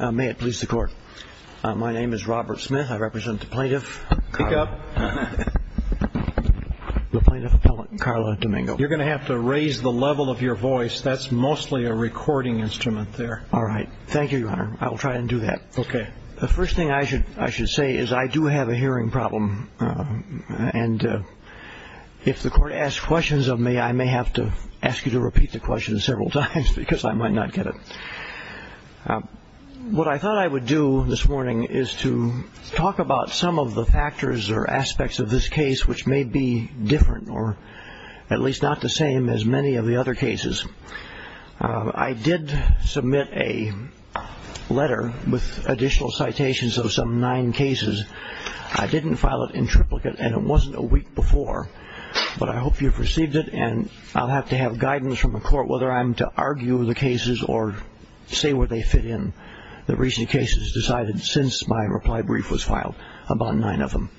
May it please the court. My name is Robert Smith. I represent the plaintiff Carla Domingo, you're gonna have to raise the level of your voice. That's mostly a recording instrument there. All right. Thank you I will try and do that. Okay, the first thing I should I should say is I do have a hearing problem and If the court asks questions of me I may have to ask you to repeat the question several times because I might not get it What I thought I would do this morning is to talk about some of the factors or aspects of this case Which may be different or at least not the same as many of the other cases I did submit a Letter with additional citations of some nine cases. I didn't file it in triplicate and it wasn't a week before But I hope you've received it and I'll have to have guidance from the court whether I'm to argue the cases or Say where they fit in the recent cases decided since my reply brief was filed about nine of them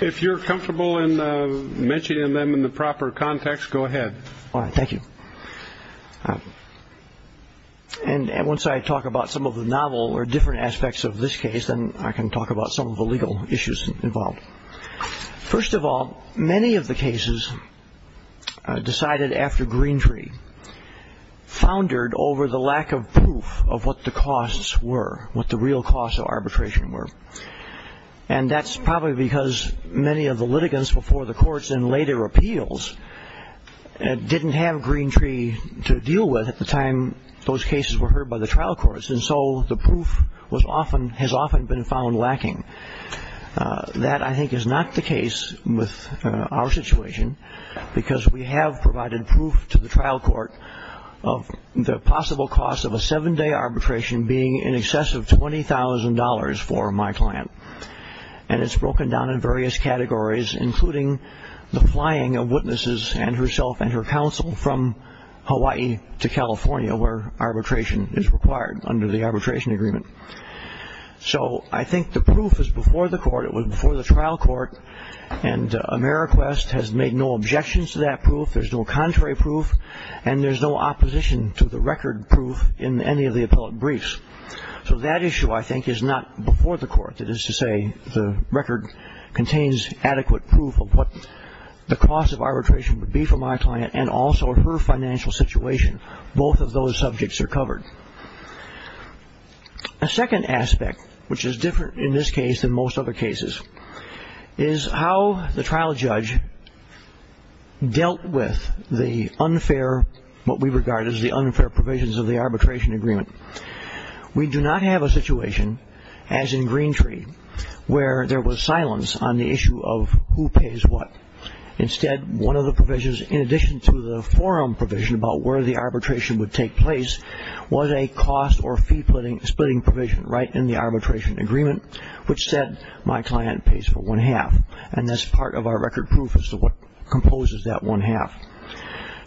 if you're comfortable in Mentioning them in the proper context. Go ahead. All right. Thank you And once I talk about some of the novel or different aspects of this case Then I can talk about some of the legal issues involved First of all many of the cases Decided after Greentree Foundered over the lack of proof of what the costs were what the real cost of arbitration were and That's probably because many of the litigants before the courts and later appeals Didn't have Greentree to deal with at the time those cases were heard by the trial courts And so the proof was often has often been found lacking That I think is not the case with our situation because we have provided proof to the trial court of The possible cost of a seven-day arbitration being in excess of twenty thousand dollars for my client and it's broken down in various categories including the flying of witnesses and herself and her counsel from Hawaii to California where arbitration is required under the arbitration agreement So, I think the proof is before the court it was before the trial court and Ameriquest has made no objections to that proof There's no contrary proof and there's no opposition to the record proof in any of the appellate briefs So that issue I think is not before the court that is to say the record Contains adequate proof of what the cost of arbitration would be for my client and also her financial situation Both of those subjects are covered A Second aspect which is different in this case than most other cases is how the trial judge Dealt with the unfair what we regard as the unfair provisions of the arbitration agreement We do not have a situation as in Greentree where there was silence on the issue of who pays what? Instead one of the provisions in addition to the forum provision about where the arbitration would take place Was a cost or fee putting splitting provision right in the arbitration agreement Which said my client pays for one half and that's part of our record proof as to what composes that one half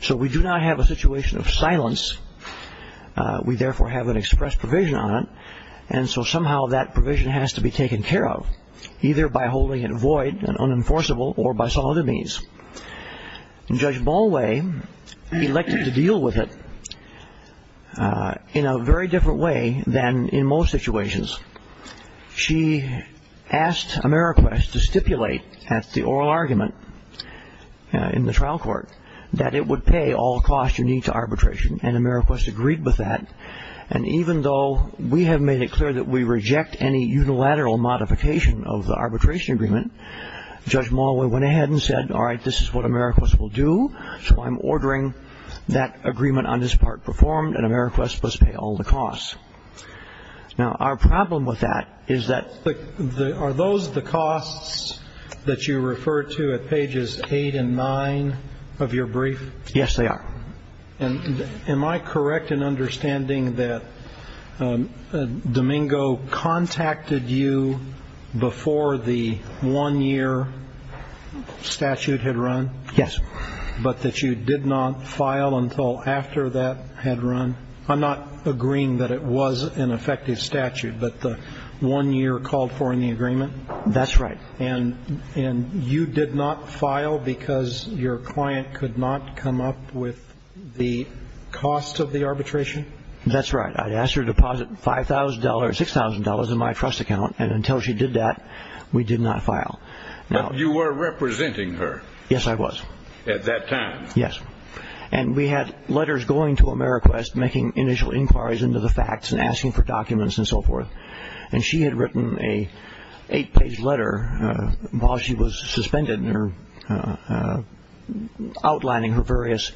So we do not have a situation of silence We therefore have an express provision on it And so somehow that provision has to be taken care of either by holding it void and unenforceable or by some other means Judge Ballway Elected to deal with it In a very different way than in most situations she Asked Ameriquest to stipulate at the oral argument in the trial court that it would pay all costs you need to arbitration and Ameriquest agreed with that and Even though we have made it clear that we reject any unilateral modification of the arbitration agreement Judge Mall we went ahead and said all right. This is what Ameriquest will do So I'm ordering that agreement on this part performed and Ameriquest must pay all the costs Now our problem with that is that the are those the costs that you refer to at pages eight and nine Of your brief. Yes, they are and am I correct in understanding that? Domingo contacted you before the one-year Statute had run. Yes, but that you did not file until after that had run I'm not agreeing that it was an effective statute, but the one-year called for in the agreement that's right, and and you did not file because your client could not come up with the Cost of the arbitration, that's right I'd asked her to deposit five thousand dollars six thousand dollars in my trust account and until she did that we did not file Now you were representing her. Yes, I was at that time Yes And we had letters going to Ameriquest making initial inquiries into the facts and asking for documents and so forth and she had written a eight-page letter while she was suspended in her Outlining her various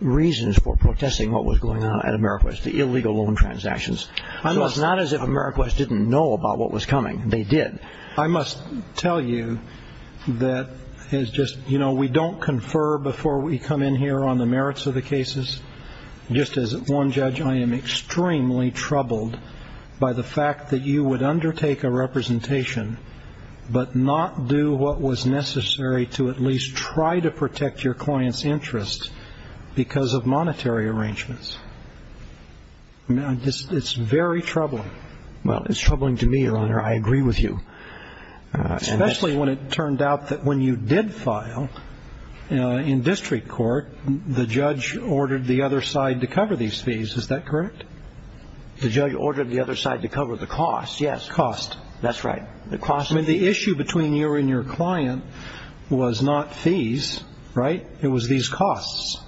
Reasons for protesting what was going on at Ameriquest the illegal loan transactions I was not as if Ameriquest didn't know about what was coming. They did I must tell you That is just you know, we don't confer before we come in here on the merits of the cases Just as one judge. I am extremely troubled by the fact that you would undertake a representation But not do what was necessary to at least try to protect your clients interest because of monetary arrangements Now this is very troubling. Well, it's troubling to me your honor. I agree with you Especially when it turned out that when you did file You know in district court the judge ordered the other side to cover these fees. Is that correct? The judge ordered the other side to cover the cost. Yes cost. That's right The cost of the issue between you and your client was not fees, right? It was these costs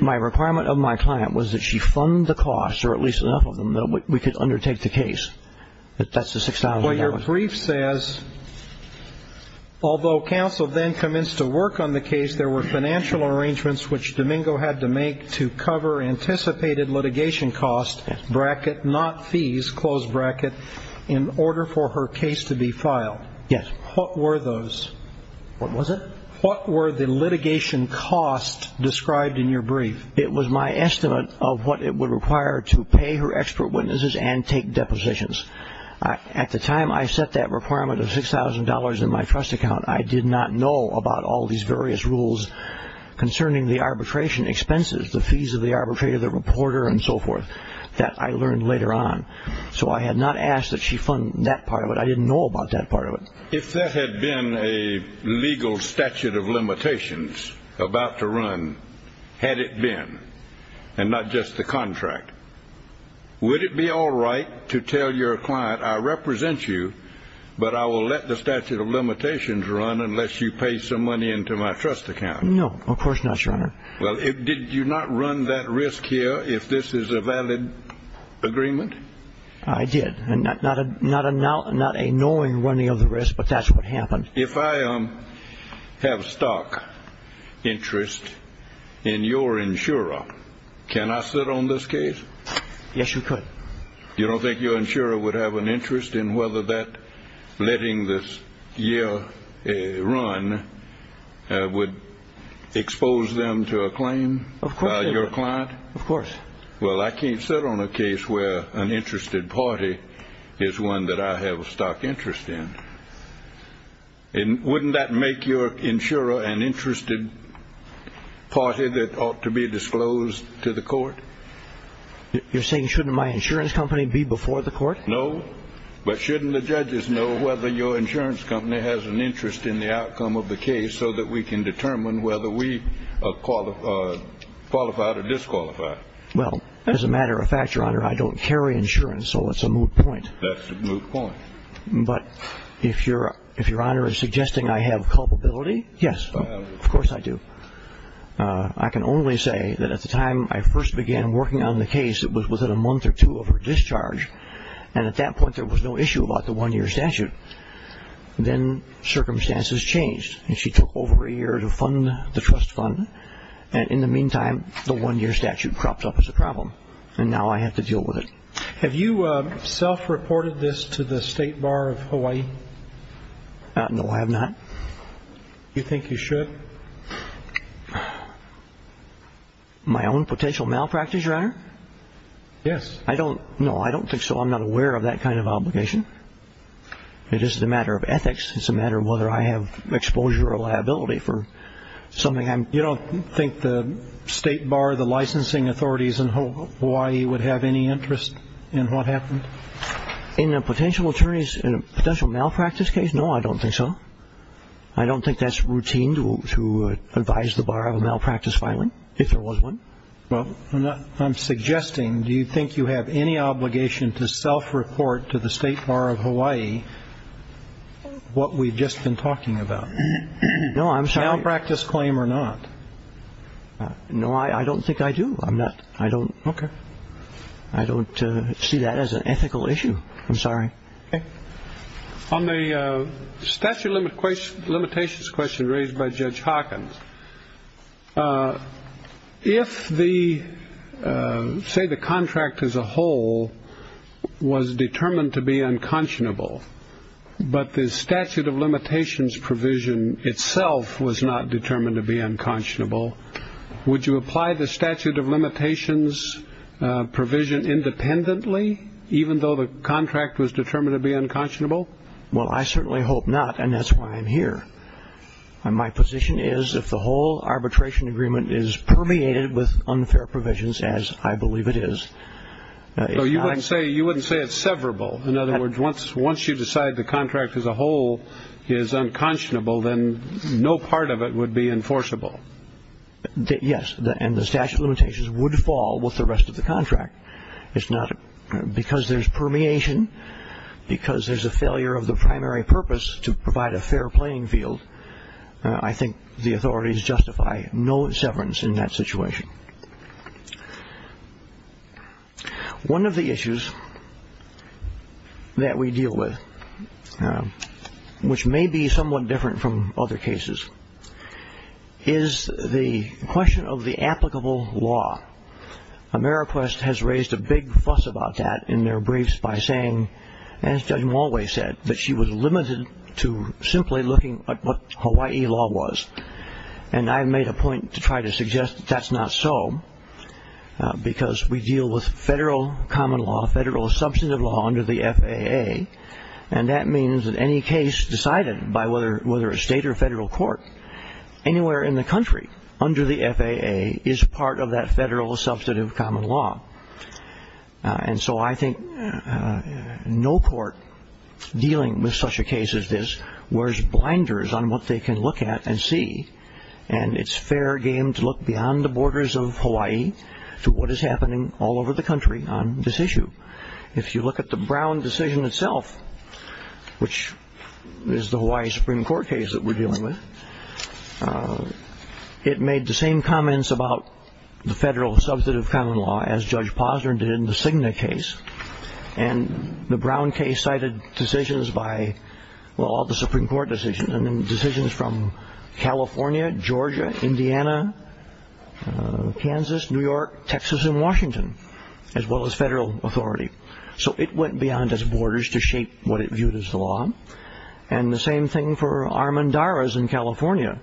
My requirement of my client was that she fund the cost or at least enough of them that we could undertake the case But that's the sixth hour when your brief says Although counsel then commenced to work on the case there were financial arrangements which Domingo had to make to cover anticipated litigation cost Bracket not fees close bracket in order for her case to be filed. Yes. What were those? What was it? What were the litigation cost described in your brief? It was my estimate of what it would require to pay her expert witnesses and take depositions At the time I set that requirement of $6,000 in my trust account. I did not know about all these various rules Concerning the arbitration expenses the fees of the arbitrator the reporter and so forth that I learned later on So I had not asked that she fund that part of it. I didn't know about that part of it if there had been a legal statute of limitations About to run had it been and not just the contract Would it be all right to tell your client? I represent you But I will let the statute of limitations run unless you pay some money into my trust account No, of course not your honor. Well, if did you not run that risk here if this is a valid Agreement, I did and not not a not a now not a knowing running of the risk, but that's what happened if I am Have stock interest in your insurer Can I sit on this case? Yes, you could you don't think your insurer would have an interest in whether that letting this year a run would Expose them to a claim of your client, of course Well, I can't sit on a case where an interested party is one that I have a stock interest in And wouldn't that make your insurer an interested Party that ought to be disclosed to the court You're saying shouldn't my insurance company be before the court? No but shouldn't the judges know whether your insurance company has an interest in the outcome of the case so that we can determine whether we call the Qualified or disqualified. Well, as a matter of fact your honor. I don't carry insurance. So it's a moot point Point but if you're if your honor is suggesting I have culpability. Yes, of course I do I can only say that at the time I first began working on the case It was within a month or two of her discharge and at that point there was no issue about the one-year statute then Circumstances changed and she took over a year to fund the trust fund And in the meantime the one-year statute cropped up as a problem and now I have to deal with it Have you self-reported this to the state bar of Hawaii? No, I have not You think you should? My own potential malpractice your honor Yes, I don't know. I don't think so. I'm not aware of that kind of obligation It is the matter of ethics. It's a matter of whether I have exposure or liability for Something I'm you don't think the state bar the licensing authorities in Hawaii would have any interest in what happened In a potential attorneys in a potential malpractice case. No, I don't think so. I Don't think that's routine to advise the bar of a malpractice filing if there was one Well, I'm not I'm suggesting. Do you think you have any obligation to self-report to the state bar of Hawaii? What we've just been talking about no, I'm sorry I'll practice claim or not No, I I don't think I do. I'm not I don't okay. I See that as an ethical issue, I'm sorry on the statute of limitations question raised by Judge Hawkins If the Say the contract as a whole Was determined to be unconscionable But the statute of limitations provision itself was not determined to be unconscionable Would you apply the statute of limitations? Provision independently, even though the contract was determined to be unconscionable. Well, I certainly hope not and that's why I'm here And my position is if the whole arbitration agreement is permeated with unfair provisions as I believe it is No, you wouldn't say you wouldn't say it's severable. In other words once once you decide the contract as a whole is Unconscionable then no part of it would be enforceable Yes, and the statute of limitations would fall with the rest of the contract it's not because there's permeation Because there's a failure of the primary purpose to provide a fair playing field. I Think the authorities justify no severance in that situation One of the issues That we deal with Which may be somewhat different from other cases Is the question of the applicable law Ameriquest has raised a big fuss about that in their briefs by saying as Judge Malway said that she was limited to simply looking at what Hawaii law was and I've made a point to try to suggest that that's not so because we deal with federal common law federal substantive law under the FAA and That means that any case decided by whether whether a state or federal court Anywhere in the country under the FAA is part of that federal substantive common law and so I think no court dealing with such a case as this wears blinders on what they can look at and see and It's fair game to look beyond the borders of Hawaii To what is happening all over the country on this issue if you look at the Brown decision itself Which is the Hawaii Supreme Court case that we're dealing with It made the same comments about the federal substantive common law as Judge Posner did in the Cigna case and the Brown case cited decisions by Well all the Supreme Court decisions and then decisions from California, Georgia, Indiana Kansas, New York, Texas and Washington as well as federal authority So it went beyond its borders to shape what it viewed as the law and the same thing for Armand Dara's in, California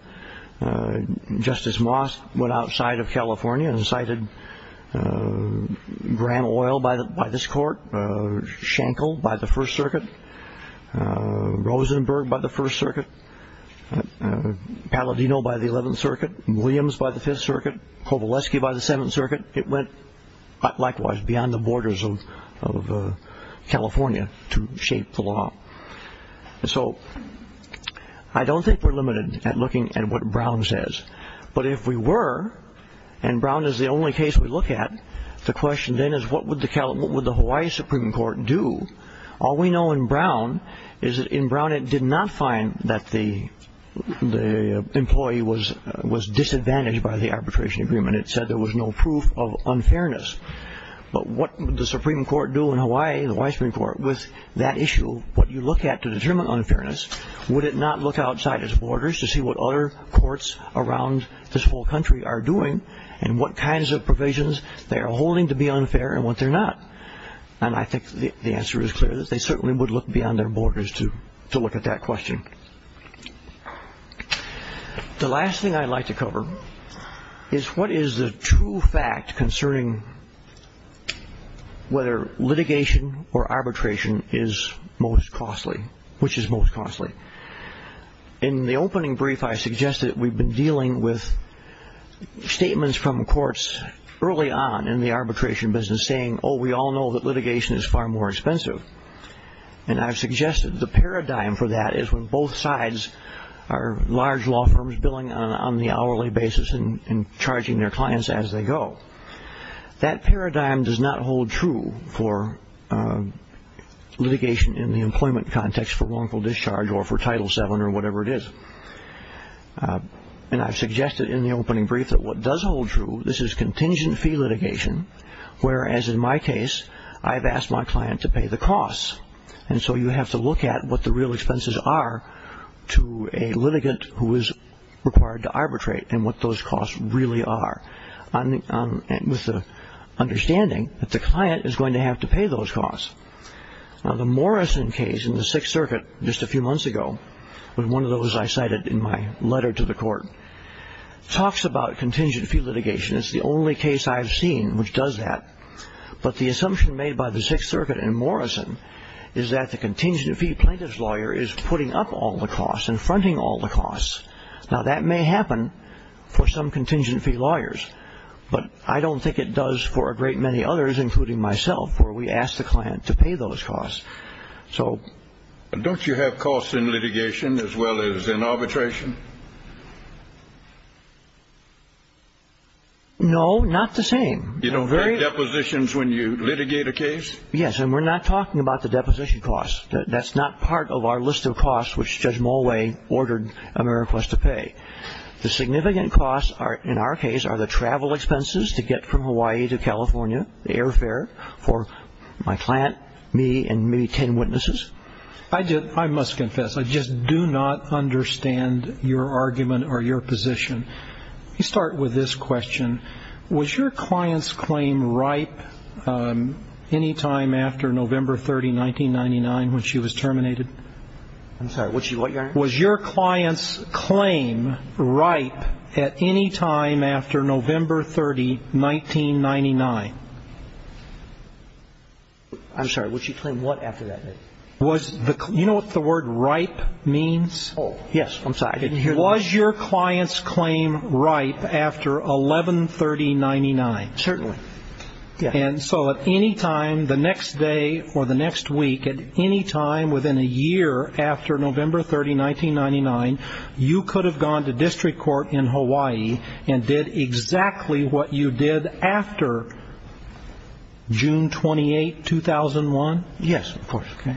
Justice Moss went outside of California and cited Graham oil by the by this court Shankle by the First Circuit Rosenberg by the First Circuit And Palladino by the Eleventh Circuit Williams by the Fifth Circuit Kovalevsky by the Seventh Circuit it went likewise beyond the borders of California to shape the law so I don't think we're limited at looking at what Brown says, but if we were and Brown is the only case we look at the question then is what would the Cal what would the Hawaii Supreme Court do? All we know in Brown is that in Brown it did not find that the Employee was was disadvantaged by the arbitration agreement. It said there was no proof of unfairness But what the Supreme Court do in Hawaii the White Supreme Court with that issue what you look at to determine unfairness Would it not look outside its borders to see what other courts? Around this whole country are doing and what kinds of provisions they are holding to be unfair and what they're not And I think the answer is clear that they certainly would look beyond their borders to to look at that question The last thing I'd like to cover is what is the true fact concerning Whether litigation or arbitration is most costly which is most costly in the opening brief I suggest that we've been dealing with Statements from courts early on in the arbitration business saying oh, we all know that litigation is far more expensive and I've suggested the paradigm for that is when both sides are Large law firms billing on the hourly basis and charging their clients as they go that paradigm does not hold true for Litigation in the employment context for wrongful discharge or for title 7 or whatever it is And I've suggested in the opening brief that what does hold true this is contingent fee litigation Whereas in my case, I've asked my client to pay the costs and so you have to look at what the real expenses are to a litigant who is required to arbitrate and what those costs really are on the Understanding that the client is going to have to pay those costs Now the Morrison case in the Sixth Circuit just a few months ago with one of those I cited in my letter to the court Talks about contingent fee litigation. It's the only case I've seen which does that But the assumption made by the Sixth Circuit and Morrison is that the contingent fee plaintiffs lawyer is putting up all the costs and fronting All the costs now that may happen for some contingent fee lawyers But I don't think it does for a great many others including myself where we asked the client to pay those costs so Don't you have costs in litigation as well as in arbitration? No, not the same, you know very depositions when you litigate a case Yes, and we're not talking about the deposition costs That's not part of our list of costs, which judge Moway ordered America's to pay The significant costs are in our case are the travel expenses to get from Hawaii to California the airfare for My client me and maybe ten witnesses. I did I must confess I just do not understand your argument or your position. You start with this question Was your clients claim, right? Any time after November 30 1999 when she was terminated I'm sorry, what you like was your clients claim right at any time after November 30 1999 I'm sorry, what you claim? What after that was the you know what the word right means? Oh, yes I'm sorry. It was your clients claim right after 113099 certainly Yeah, and so at any time the next day or the next week at any time within a year after November 30 1999 you could have gone to district court in Hawaii and did exactly what you did after June 28 2001 yes, okay,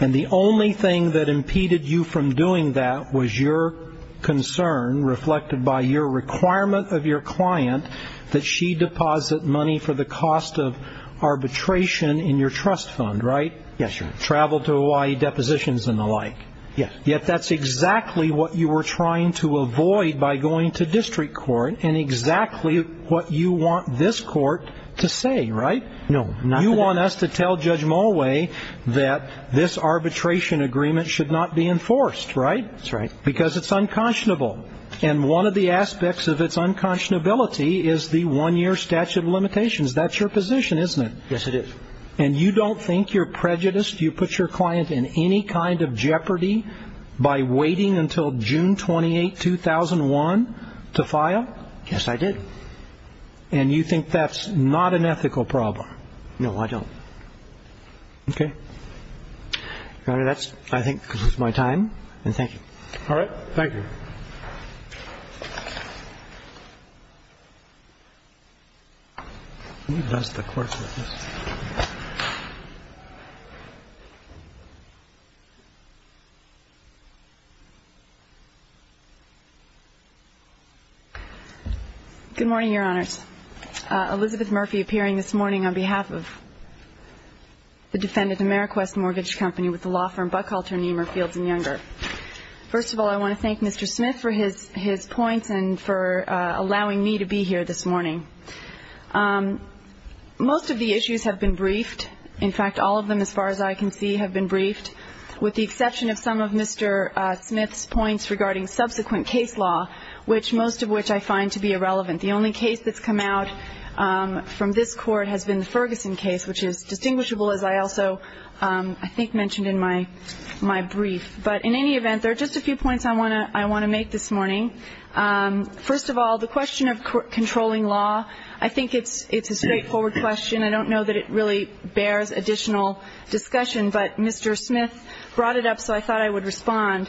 and the only thing that impeded you from doing that was your Concern reflected by your requirement of your client that she deposit money for the cost of Arbitration in your trust fund right yes, you travel to Hawaii depositions and the like yeah Yet, that's exactly what you were trying to avoid by going to district court and exactly what you want this court To say right no not you want us to tell judge Moway that this Arbitration agreement should not be enforced right that's right because it's unconscionable and one of the aspects of its Unconscionability is the one-year statute of limitations. That's your position isn't it yes it is and you don't think you're prejudiced You put your client in any kind of jeopardy by waiting until June 28 2001 to file yes, I did and you think that's not an ethical problem. No, I don't Okay All right, that's I think my time and thank you all right. Thank you That's the question Good morning your honors Elizabeth Murphy appearing this morning on behalf of The defendant Ameriquest Mortgage Company with the law firm Buckhalter Niemir Fields and Younger First of all I want to thank mr. Smith for his his points and for allowing me to be here this morning Most of the issues have been briefed in fact all of them as far as I can see have been briefed With the exception of some of mr. Smith's points regarding subsequent case law which most of which I find to be irrelevant the only case that's come out From this court has been the Ferguson case which is distinguishable as I also I think mentioned in my my brief, but in any event there are just a few points. I want to I want to make this morning First of all the question of controlling law. I think it's it's a straightforward question. I don't know that it really bears additional Discussion, but mr. Smith brought it up, so I thought I would respond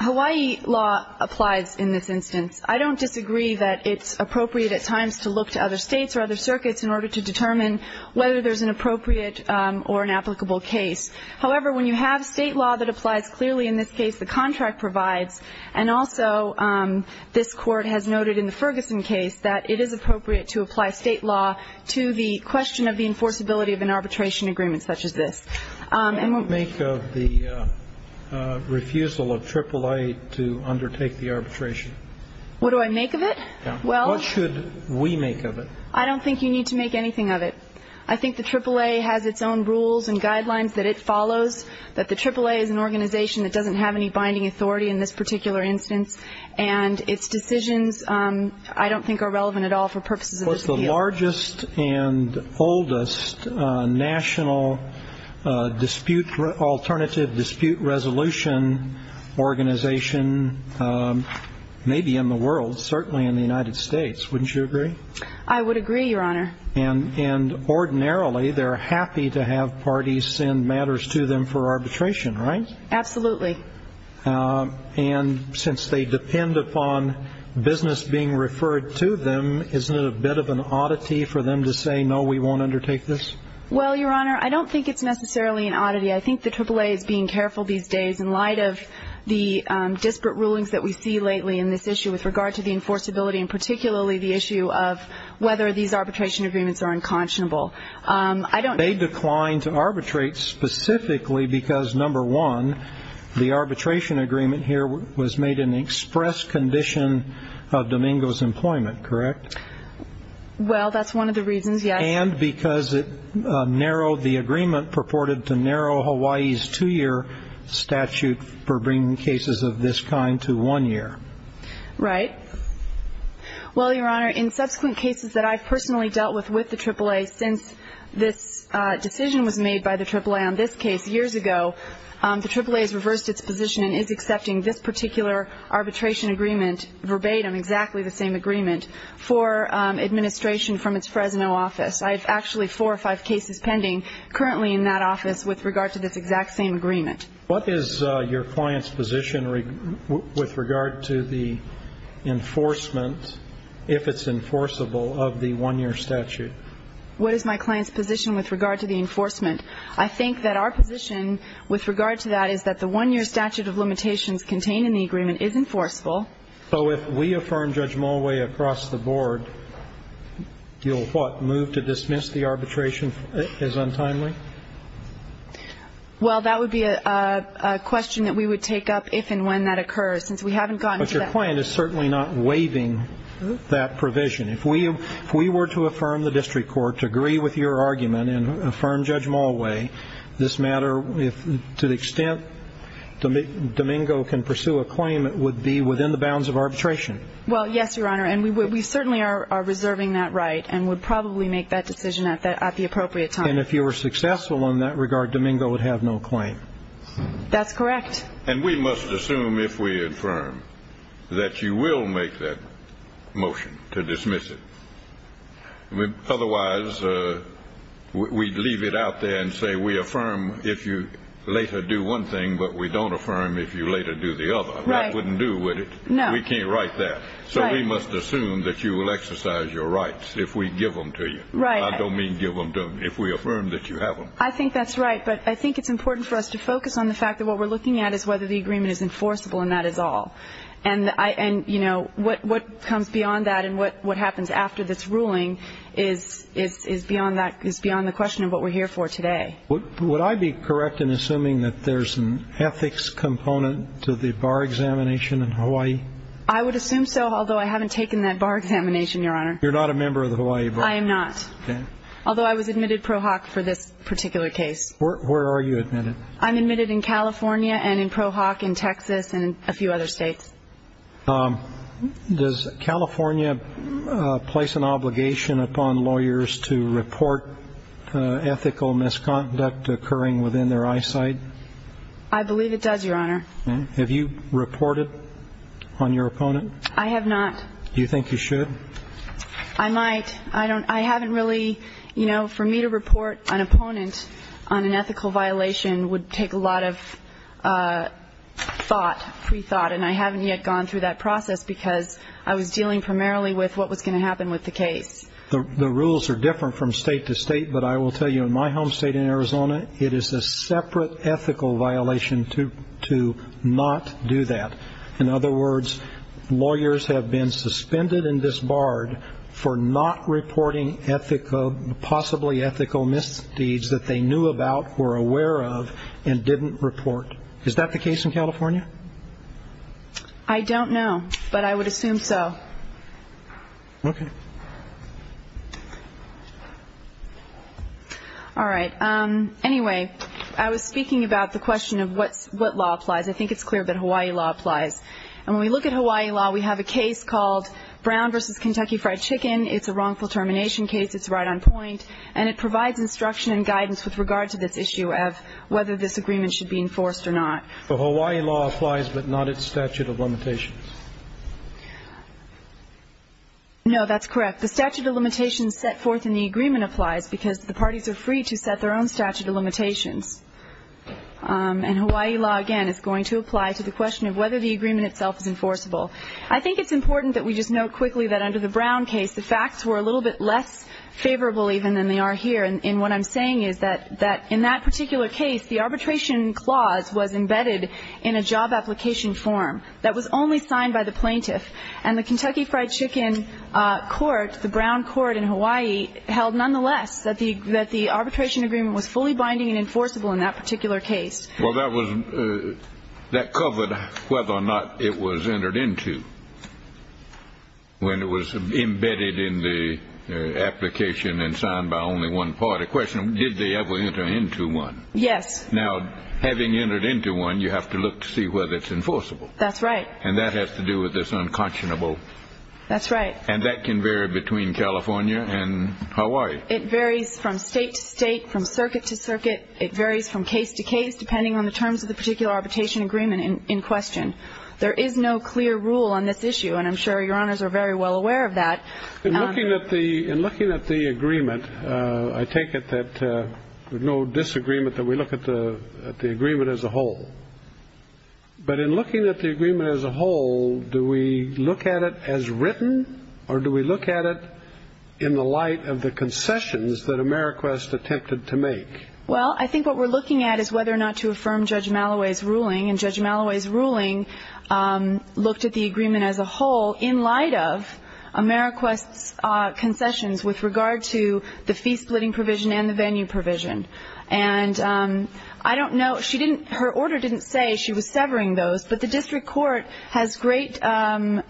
Hawaii law applies in this instance I don't disagree that it's appropriate at times to look to other states or other circuits in order to determine Whether there's an appropriate or an applicable case however when you have state law that applies clearly in this case the contract provides and also This court has noted in the Ferguson case that it is appropriate to apply state law to the question of the enforceability of an arbitration agreement such as this and what make of the Refusal of AAA to undertake the arbitration What do I make of it? Well should we make of it? I don't think you need to make anything of it I think the AAA has its own rules and guidelines that it follows that the AAA is an organization That doesn't have any binding authority in this particular instance and its decisions I don't think are relevant at all for purposes of the largest and oldest national Dispute alternative dispute resolution organization Maybe in the world certainly in the United States wouldn't you agree? I would agree your honor and and Ordinarily, they're happy to have parties send matters to them for arbitration right absolutely And since they depend upon Business being referred to them isn't it a bit of an oddity for them to say no we won't undertake this well your honor I don't think it's necessarily an oddity I think the AAA is being careful these days in light of the disparate rulings that we see lately in this issue with regard to the enforceability and particularly the issue of Whether these arbitration agreements are unconscionable. I don't they declined to arbitrate specifically because number one The arbitration agreement here was made an express condition of Domingo's employment correct well, that's one of the reasons yeah, and because it The agreement purported to narrow Hawaii's two-year statute for bringing cases of this kind to one year right well your honor in subsequent cases that I've personally dealt with with the AAA since this Decision was made by the AAA on this case years ago The AAA has reversed its position and is accepting this particular arbitration agreement verbatim exactly the same agreement for Administration from its Fresno office I've actually four or five cases pending currently in that office with regard to this exact same agreement What is your client's position with regard to the? Enforcement if it's enforceable of the one-year statute What is my client's position with regard to the enforcement? I think that our position with regard to that is that the one-year statute of limitations contained in the agreement is enforceable So if we affirm judge Mulway across the board You'll what move to dismiss the arbitration is untimely Well, that would be a Question that we would take up if and when that occurs since we haven't gotten to that point is certainly not waiving That provision if we if we were to affirm the district court to agree with your argument and affirm judge Mulway This matter if to the extent To make Domingo can pursue a claim. It would be within the bounds of arbitration Well, yes, your honor And we certainly are Reserving that right and would probably make that decision at that at the appropriate time and if you were successful on that regard Domingo would have No claim That's correct. And we must assume if we infirm that you will make that motion to dismiss it with otherwise We'd leave it out there and say we affirm if you later do one thing But we don't affirm if you later do the other wouldn't do with it No, we can't write that so we must assume that you will exercise your rights if we give them to you, right? I don't mean give them to me if we affirm that you have them I think that's right but I think it's important for us to focus on the fact that what we're looking at is whether the agreement is enforceable and that is all and I and you know what what comes beyond that and what what happens after this ruling is Is is beyond that is beyond the question of what we're here for today Would I be correct in assuming that there's an ethics component to the bar examination in Hawaii I would assume so although I haven't taken that bar examination your honor. You're not a member of the Hawaii. I am NOT Although I was admitted pro hoc for this particular case. Where are you admitted? I'm admitted in California and in pro hoc in Texas and a few other states Does California place an obligation upon lawyers to report Ethical misconduct occurring within their eyesight. I Believe it does your honor. Have you reported on your opponent? I have not do you think you should I? Might I don't I haven't really you know for me to report an opponent on an ethical violation would take a lot of Thought pre-thought and I haven't yet gone through that process because I was dealing primarily with what was going to happen with the case The rules are different from state to state, but I will tell you in my home state in Arizona It is a separate ethical violation to to not do that in other words Lawyers have been suspended and disbarred for not reporting ethical Possibly ethical misdeeds that they knew about were aware of and didn't report. Is that the case in California? I Don't know, but I would assume so Okay All right, um, anyway, I was speaking about the question of what's what law applies I think it's clear that Hawaii law applies and when we look at Hawaii law, we have a case called Brown versus Kentucky fried chicken It's a wrongful termination case It's right on point and it provides instruction and guidance with regard to this issue of whether this agreement should be enforced or not So Hawaii law applies but not its statute of limitations No, that's correct the statute of limitations set forth in the agreement applies because the parties are free to set their own statute of limitations And Hawaii law again is going to apply to the question of whether the agreement itself is enforceable I think it's important that we just know quickly that under the Brown case the facts were a little bit less Favorable even than they are here and what I'm saying is that that in that particular case the arbitration clause was embedded in a job Application form that was only signed by the plaintiff and the Kentucky fried chicken Court the Brown court in Hawaii held nonetheless that the that the arbitration agreement was fully binding and enforceable in that particular case well, that was that covered whether or not it was entered into When it was embedded in the Application and signed by only one party question. Did they ever enter into one? Yes, now having entered into one you have to look to see whether it's enforceable. That's right. And that has to do with this unconscionable That's right. And that can vary between California and Hawaii it varies from state to state from circuit to circuit It varies from case to case depending on the terms of the particular arbitration agreement in question There is no clear rule on this issue and I'm sure your honors are very well aware of that Looking at the in looking at the agreement. I take it that There's no disagreement that we look at the at the agreement as a whole But in looking at the agreement as a whole do we look at it as written or do we look at it? In the light of the concessions that Ameriquest attempted to make well I think what we're looking at is whether or not to affirm judge Malloway's ruling and judge Malloway's ruling looked at the agreement as a whole in light of Ameriquest Concessions with regard to the fee-splitting provision and the venue provision and I don't know. She didn't her order didn't say she was severing those but the district court has great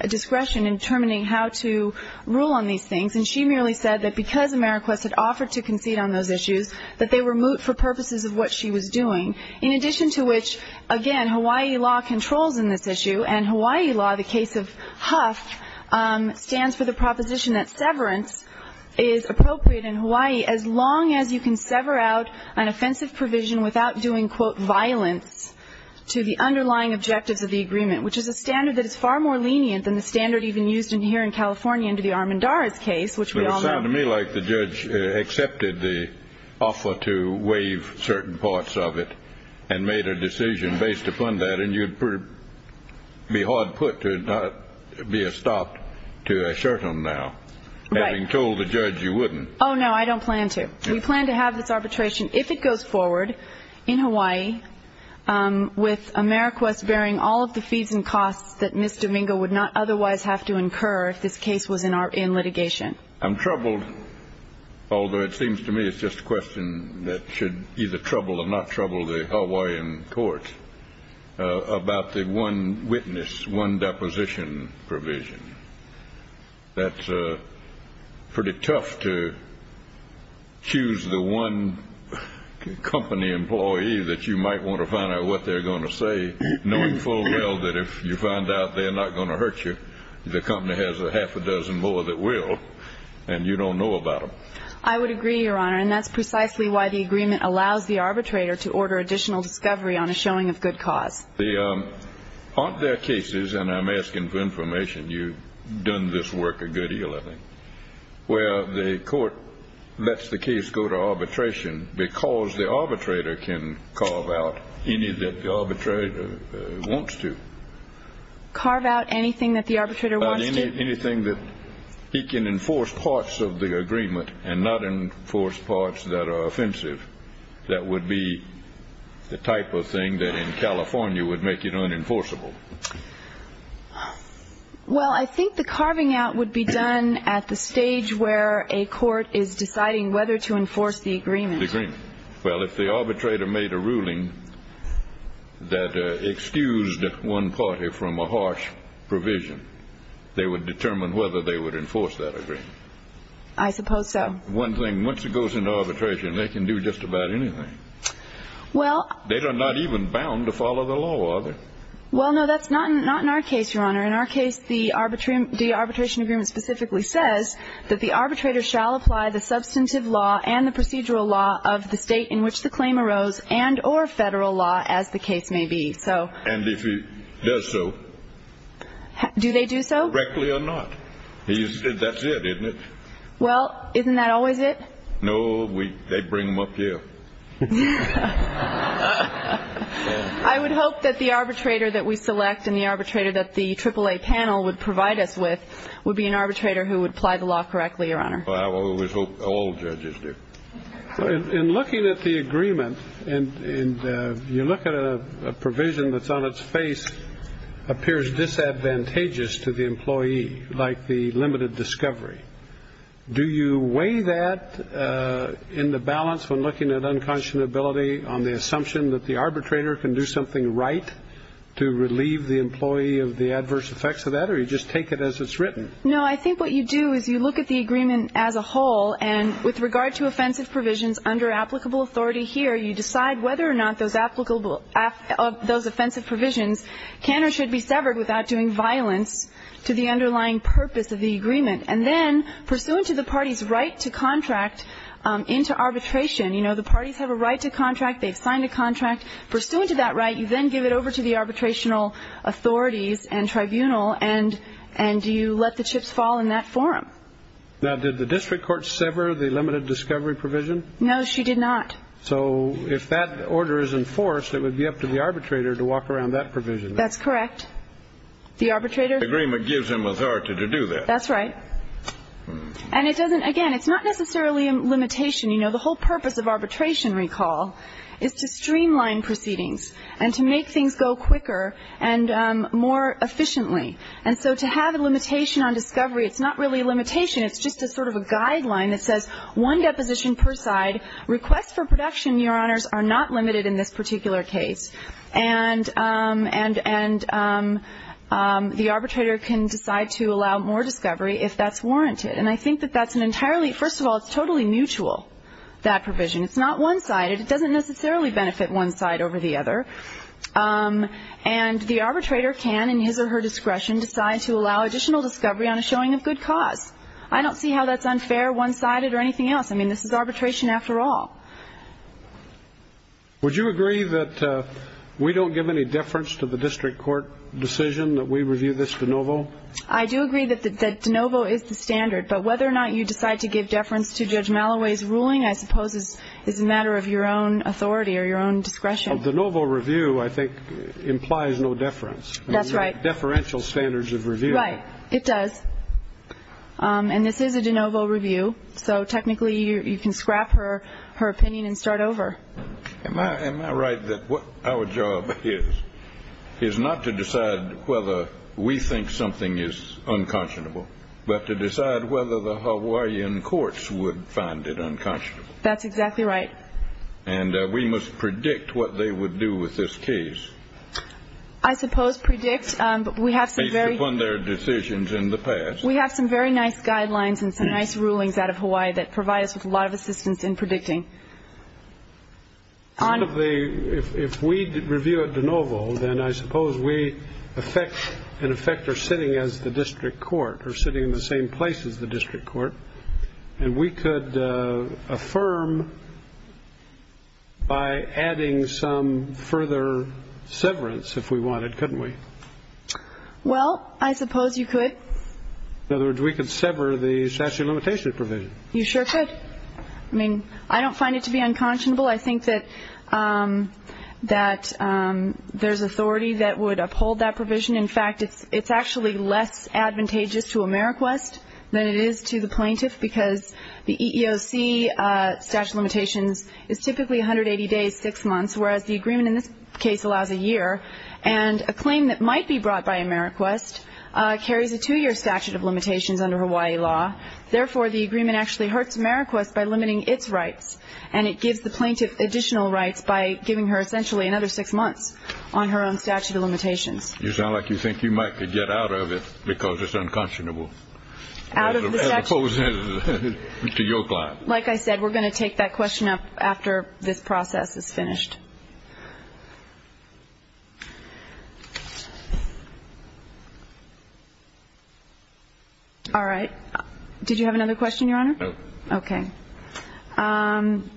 discretion in determining how to Rule on these things and she merely said that because Ameriquest had offered to concede on those issues That they were moot for purposes of what she was doing in addition to which again Hawaii law controls in this issue and Hawaii law the case of Huff Stands for the proposition that severance is Appropriate in Hawaii as long as you can sever out an offensive provision without doing quote violence To the underlying objectives of the agreement Which is a standard that is far more lenient than the standard even used in here in California into the Armendariz case Which we all know to me like the judge accepted the offer to waive certain parts of it and made a decision based upon that and you'd Be hard-put to Be a stopped to a certain now Having told the judge you wouldn't oh, no, I don't plan to we plan to have this arbitration if it goes forward in Hawaii With Ameriquest bearing all of the fees and costs that miss Domingo would not otherwise have to incur if this case was in our in litigation I'm troubled Although it seems to me. It's just a question that should either trouble or not trouble the Hawaiian courts About the one witness one deposition provision that's pretty tough to choose the one Company employee that you might want to find out what they're going to say Knowing full well that if you find out they're not going to hurt you The company has a half a dozen more that will and you don't know about them I would agree your honor, and that's precisely why the agreement allows the arbitrator to order additional discovery on a showing of good cause the Aren't there cases and I'm asking for information you done this work a good deal of them Well the court lets the case go to arbitration because the arbitrator can carve out any that the arbitrator wants to Carve out anything that the arbitrator wanted anything that He can enforce parts of the agreement and not in force parts that are offensive. That would be The type of thing that in California would make it unenforceable Well, I think the carving out would be done at the stage where a court is deciding whether to enforce the agreement Well if the arbitrator made a ruling That excused one party from a harsh provision They would determine whether they would enforce that agreement. I suppose so one thing once it goes into arbitration. They can do just about anything Well, they are not even bound to follow the law Well, no, that's not not in our case your honor in our case the arbitrary the arbitration agreement specifically says that the arbitrator shall apply Substantive law and the procedural law of the state in which the claim arose and or federal law as the case may be so and if He does so Do they do so correctly or not? He said that's it. Isn't it? Well, isn't that always it? No, we they bring them up here I would hope that the arbitrator that we select in the arbitrator that the triple-a panel would provide us with Would be an arbitrator who would apply the law correctly your honor. Well, I always hope all judges do In looking at the agreement and in you look at a provision that's on its face appears Disadvantageous to the employee like the limited discovery Do you weigh that? In the balance when looking at unconscionability on the assumption that the arbitrator can do something, right? To relieve the employee of the adverse effects of that or you just take it as it's written No I think what you do is you look at the agreement as a whole and with regard to offensive provisions under applicable authority here you Decide whether or not those applicable Those offensive provisions can or should be severed without doing violence to the underlying purpose of the agreement and then pursuant to the party's right to contract Into arbitration, you know, the parties have a right to contract They've signed a contract pursuant to that right you then give it over to the arbitration Authorities and tribunal and and do you let the chips fall in that forum? Now did the district court sever the limited discovery provision? No, she did not So if that order is enforced, it would be up to the arbitrator to walk around that provision. That's correct The arbitrator agreement gives him authority to do that. That's right And it doesn't again. It's not necessarily a limitation, you know, the whole purpose of arbitration recall Is to streamline proceedings and to make things go quicker and more efficiently and so to have a limitation on discovery It's not really a limitation It's just a sort of a guideline that says one deposition per side request for production Your honors are not limited in this particular case and and and The arbitrator can decide to allow more discovery if that's warranted and I think that that's an entirely first of all, it's totally mutual That provision it's not one-sided. It doesn't necessarily benefit one side over the other And the arbitrator can in his or her discretion decide to allow additional discovery on a showing of good cause I don't see how that's unfair one-sided or anything else. I mean, this is arbitration after all Would you agree that We don't give any deference to the district court decision that we review this de novo I do agree that the de novo is the standard but whether or not you decide to give deference to judge Malloway's ruling I suppose is is a matter of your own authority or your own discretion of the novel review, I think Implies no deference. That's right deferential standards of review, right? It does Um, and this is a de novo review. So technically you can scrap her her opinion and start over Am I am I right that what our job is? Is not to decide whether we think something is unconscionable But to decide whether the hawaiian courts would find it unconscionable. That's exactly right And we must predict what they would do with this case I suppose predict, um, but we have some very upon their decisions in the past We have some very nice guidelines and some nice rulings out of hawaii that provide us with a lot of assistance in predicting On of the if we review it de novo, then I suppose we Affect an effector sitting as the district court or sitting in the same place as the district court And we could uh affirm By adding some further severance if we wanted couldn't we Well, I suppose you could In other words, we could sever the statute of limitations provision. You sure could I mean, I don't find it to be unconscionable. I think that um that um There's authority that would uphold that provision In fact, it's it's actually less advantageous to ameriquest than it is to the plaintiff because the eeoc Uh statute of limitations is typically 180 days six months Whereas the agreement in this case allows a year and a claim that might be brought by ameriquest Uh carries a two-year statute of limitations under hawaii law Therefore the agreement actually hurts ameriquest by limiting its rights And it gives the plaintiff additional rights by giving her essentially another six months On her own statute of limitations. You sound like you think you might could get out of it because it's unconscionable out of Like I said, we're going to take that question up after this process is finished Okay All right, did you have another question your honor okay, um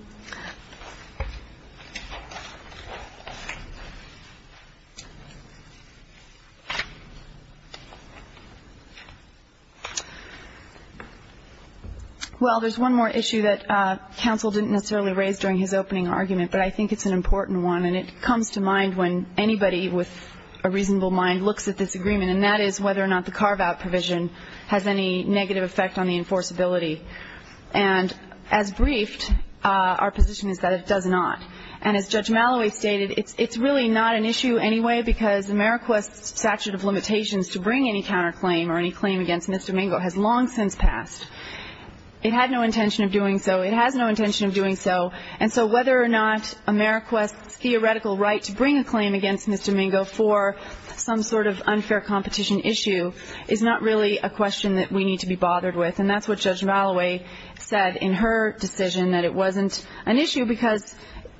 Well, there's one more issue that uh council didn't necessarily raise during his opening argument But I think it's an important one and it comes to mind when anybody with A reasonable mind looks at this agreement and that is whether or not the carve-out provision has any negative effect on the enforceability and as briefed Uh, our position is that it does not and as judge malloway stated It's it's really not an issue anyway, because ameriquest's statute of limitations to bring any counterclaim or any claim against mr Mingo has long since passed It had no intention of doing so it has no intention of doing so And so whether or not ameriquest's theoretical right to bring a claim against mr Mingo for Some sort of unfair competition issue is not really a question that we need to be bothered with and that's what judge malloway said in her decision that it wasn't an issue because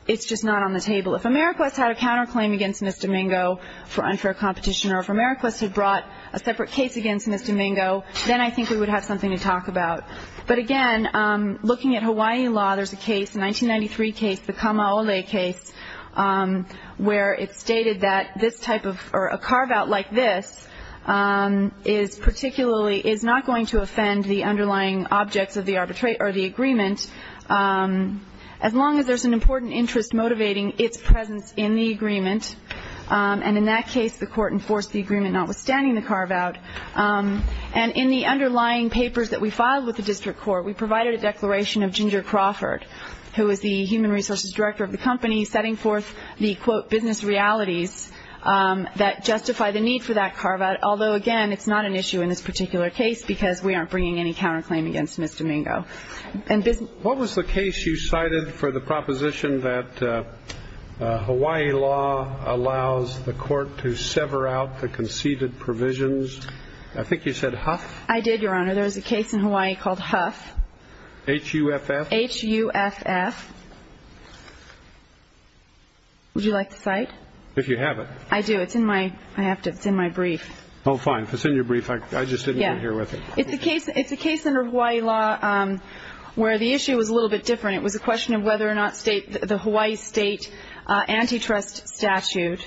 It's just not on the table if ameriquest had a counterclaim against mr Mingo for unfair competition or if ameriquest had brought a separate case against mr Mingo, then I think we would have something to talk about but again, um looking at hawaii law There's a case a 1993 case the kamaole case um Where it stated that this type of or a carve-out like this Um is particularly is not going to offend the underlying objects of the arbitrate or the agreement As long as there's an important interest motivating its presence in the agreement And in that case the court enforced the agreement notwithstanding the carve-out Um and in the underlying papers that we filed with the district court We provided a declaration of ginger crawford who is the human resources director of the company setting forth the quote business realities That justify the need for that carve-out Although again, it's not an issue in this particular case because we aren't bringing any counterclaim against mr. Mingo and business. What was the case you cited for the proposition that Hawaii law allows the court to sever out the conceded provisions I think you said huff. I did your honor. There's a case in hawaii called huff huff huff Would you like to cite if you have it I do it's in my I have to it's in my brief Oh fine, if it's in your brief, I just didn't hear with it. It's a case. It's a case under hawaii law. Um The issue was a little bit different. It was a question of whether or not state the hawaii state, uh antitrust statute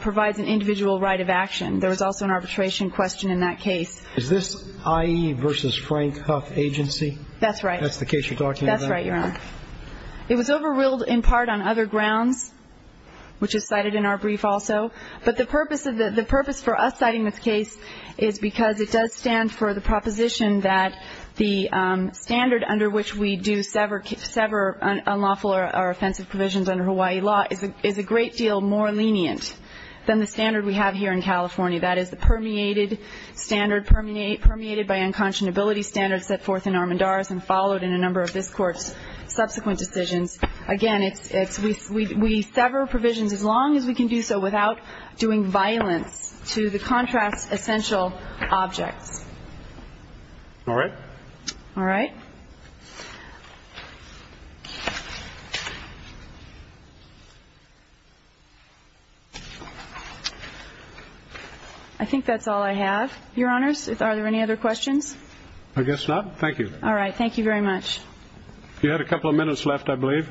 Provides an individual right of action. There was also an arbitration question in that case. Is this ie versus frank huff agency? That's right. That's the case. You're talking. That's right. You're on It was overruled in part on other grounds Which is cited in our brief also but the purpose of the the purpose for us citing this case is because it does stand for the proposition that the Standard under which we do sever sever Unlawful or offensive provisions under hawaii law is a great deal more lenient than the standard we have here in california That is the permeated Standard permeate permeated by unconscionability standards set forth in armandar's and followed in a number of this court's subsequent decisions Again, it's it's we we sever provisions as long as we can do so without doing violence to the contracts essential objects All right, all right I think that's all I have your honors. Are there any other questions? I guess not. Thank you. All right. Thank you very much You had a couple of minutes left, I believe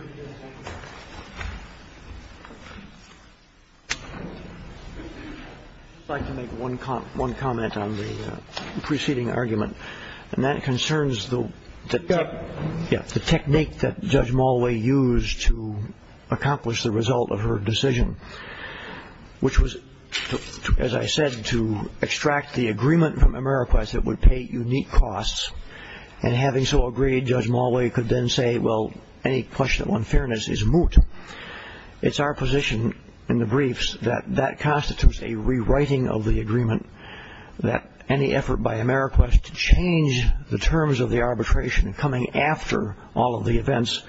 Thank you I'd like to make one comment one comment on the preceding argument and that concerns the Yeah, the technique that judge molly used to accomplish the result of her decision which was As I said to extract the agreement from americas that would pay unique costs And having so agreed judge molly could then say well any question on fairness is moot It's our position in the briefs that that constitutes a rewriting of the agreement That any effort by america to change the terms of the arbitration coming after all of the events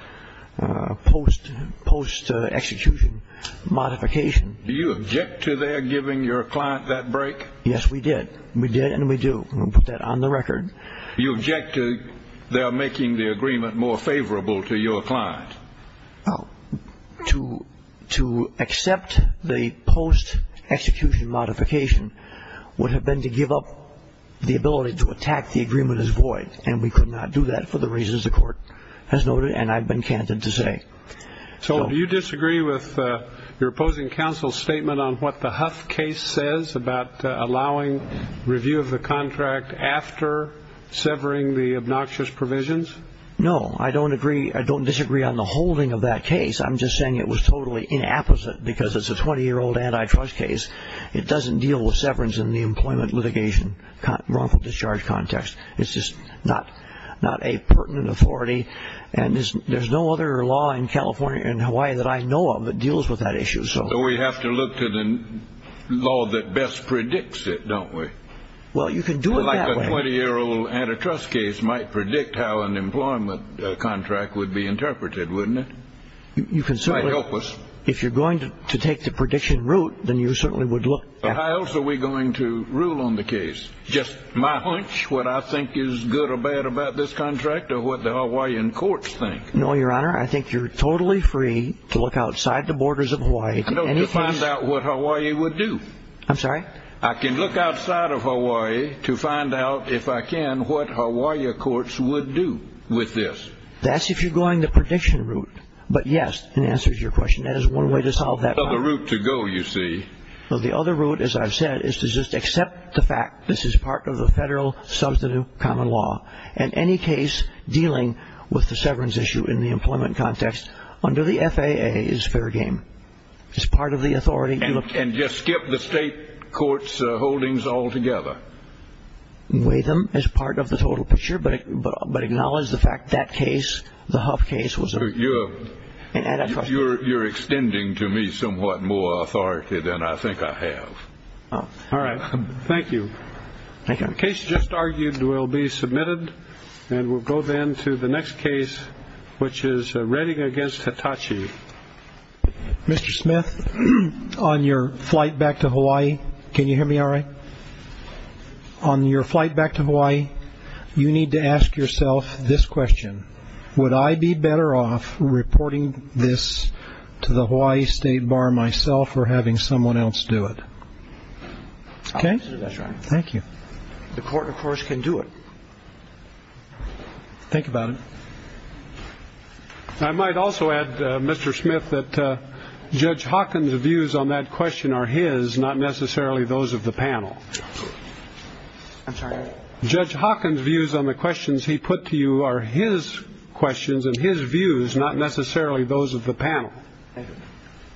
post post execution Modification do you object to their giving your client that break? Yes, we did we did and we do we put that on the record you object to They are making the agreement more favorable to your client To to accept the post execution modification Would have been to give up The ability to attack the agreement is void and we could not do that for the reasons the court Has noted and i've been candid to say So do you disagree with uh, your opposing counsel's statement on what the huff case says about allowing review of the contract after Severing the obnoxious provisions. No, I don't agree. I don't disagree on the holding of that case I'm, just saying it was totally inapposite because it's a 20 year old antitrust case It doesn't deal with severance in the employment litigation wrongful discharge context It's just not Not a pertinent authority and there's no other law in california and hawaii that I know of that deals with that issue So we have to look to the Law that best predicts it don't we? Well, you can do it like a 20 year old antitrust case might predict how an employment contract would be interpreted, wouldn't it? You can certainly help us if you're going to take the prediction route Then you certainly would look how else are we going to rule on the case? Just my hunch what I think is good or bad about this contract or what the hawaiian courts think. No your honor I think you're totally free to look outside the borders of hawaii to find out what hawaii would do I'm, sorry, I can look outside of hawaii to find out if I can what hawaiia courts would do with this That's if you're going the prediction route But yes in answer to your question that is one way to solve that other route to go you see Well, the other route as i've said is to just accept the fact this is part of the federal Substantive common law and any case dealing with the severance issue in the employment context under the faa is fair game As part of the authority and just skip the state court's holdings altogether Weigh them as part of the total picture, but but acknowledge the fact that case the huff case was a You're you're extending to me somewhat more authority than I think I have All right. Thank you Thank you case just argued will be submitted And we'll go then to the next case Which is reading against hitachi Mr. Smith on your flight back to hawaii. Can you hear me? All right On your flight back to hawaii You need to ask yourself this question Would I be better off reporting this? To the hawaii state bar myself or having someone else do it Okay, that's right. Thank you. The court of course can do it Think about it I might also add mr. Smith that uh, judge hawkins views on that question are his not necessarily those of the panel I'm, sorry judge hawkins views on the questions. He put to you are his questions and his views not necessarily those of the panel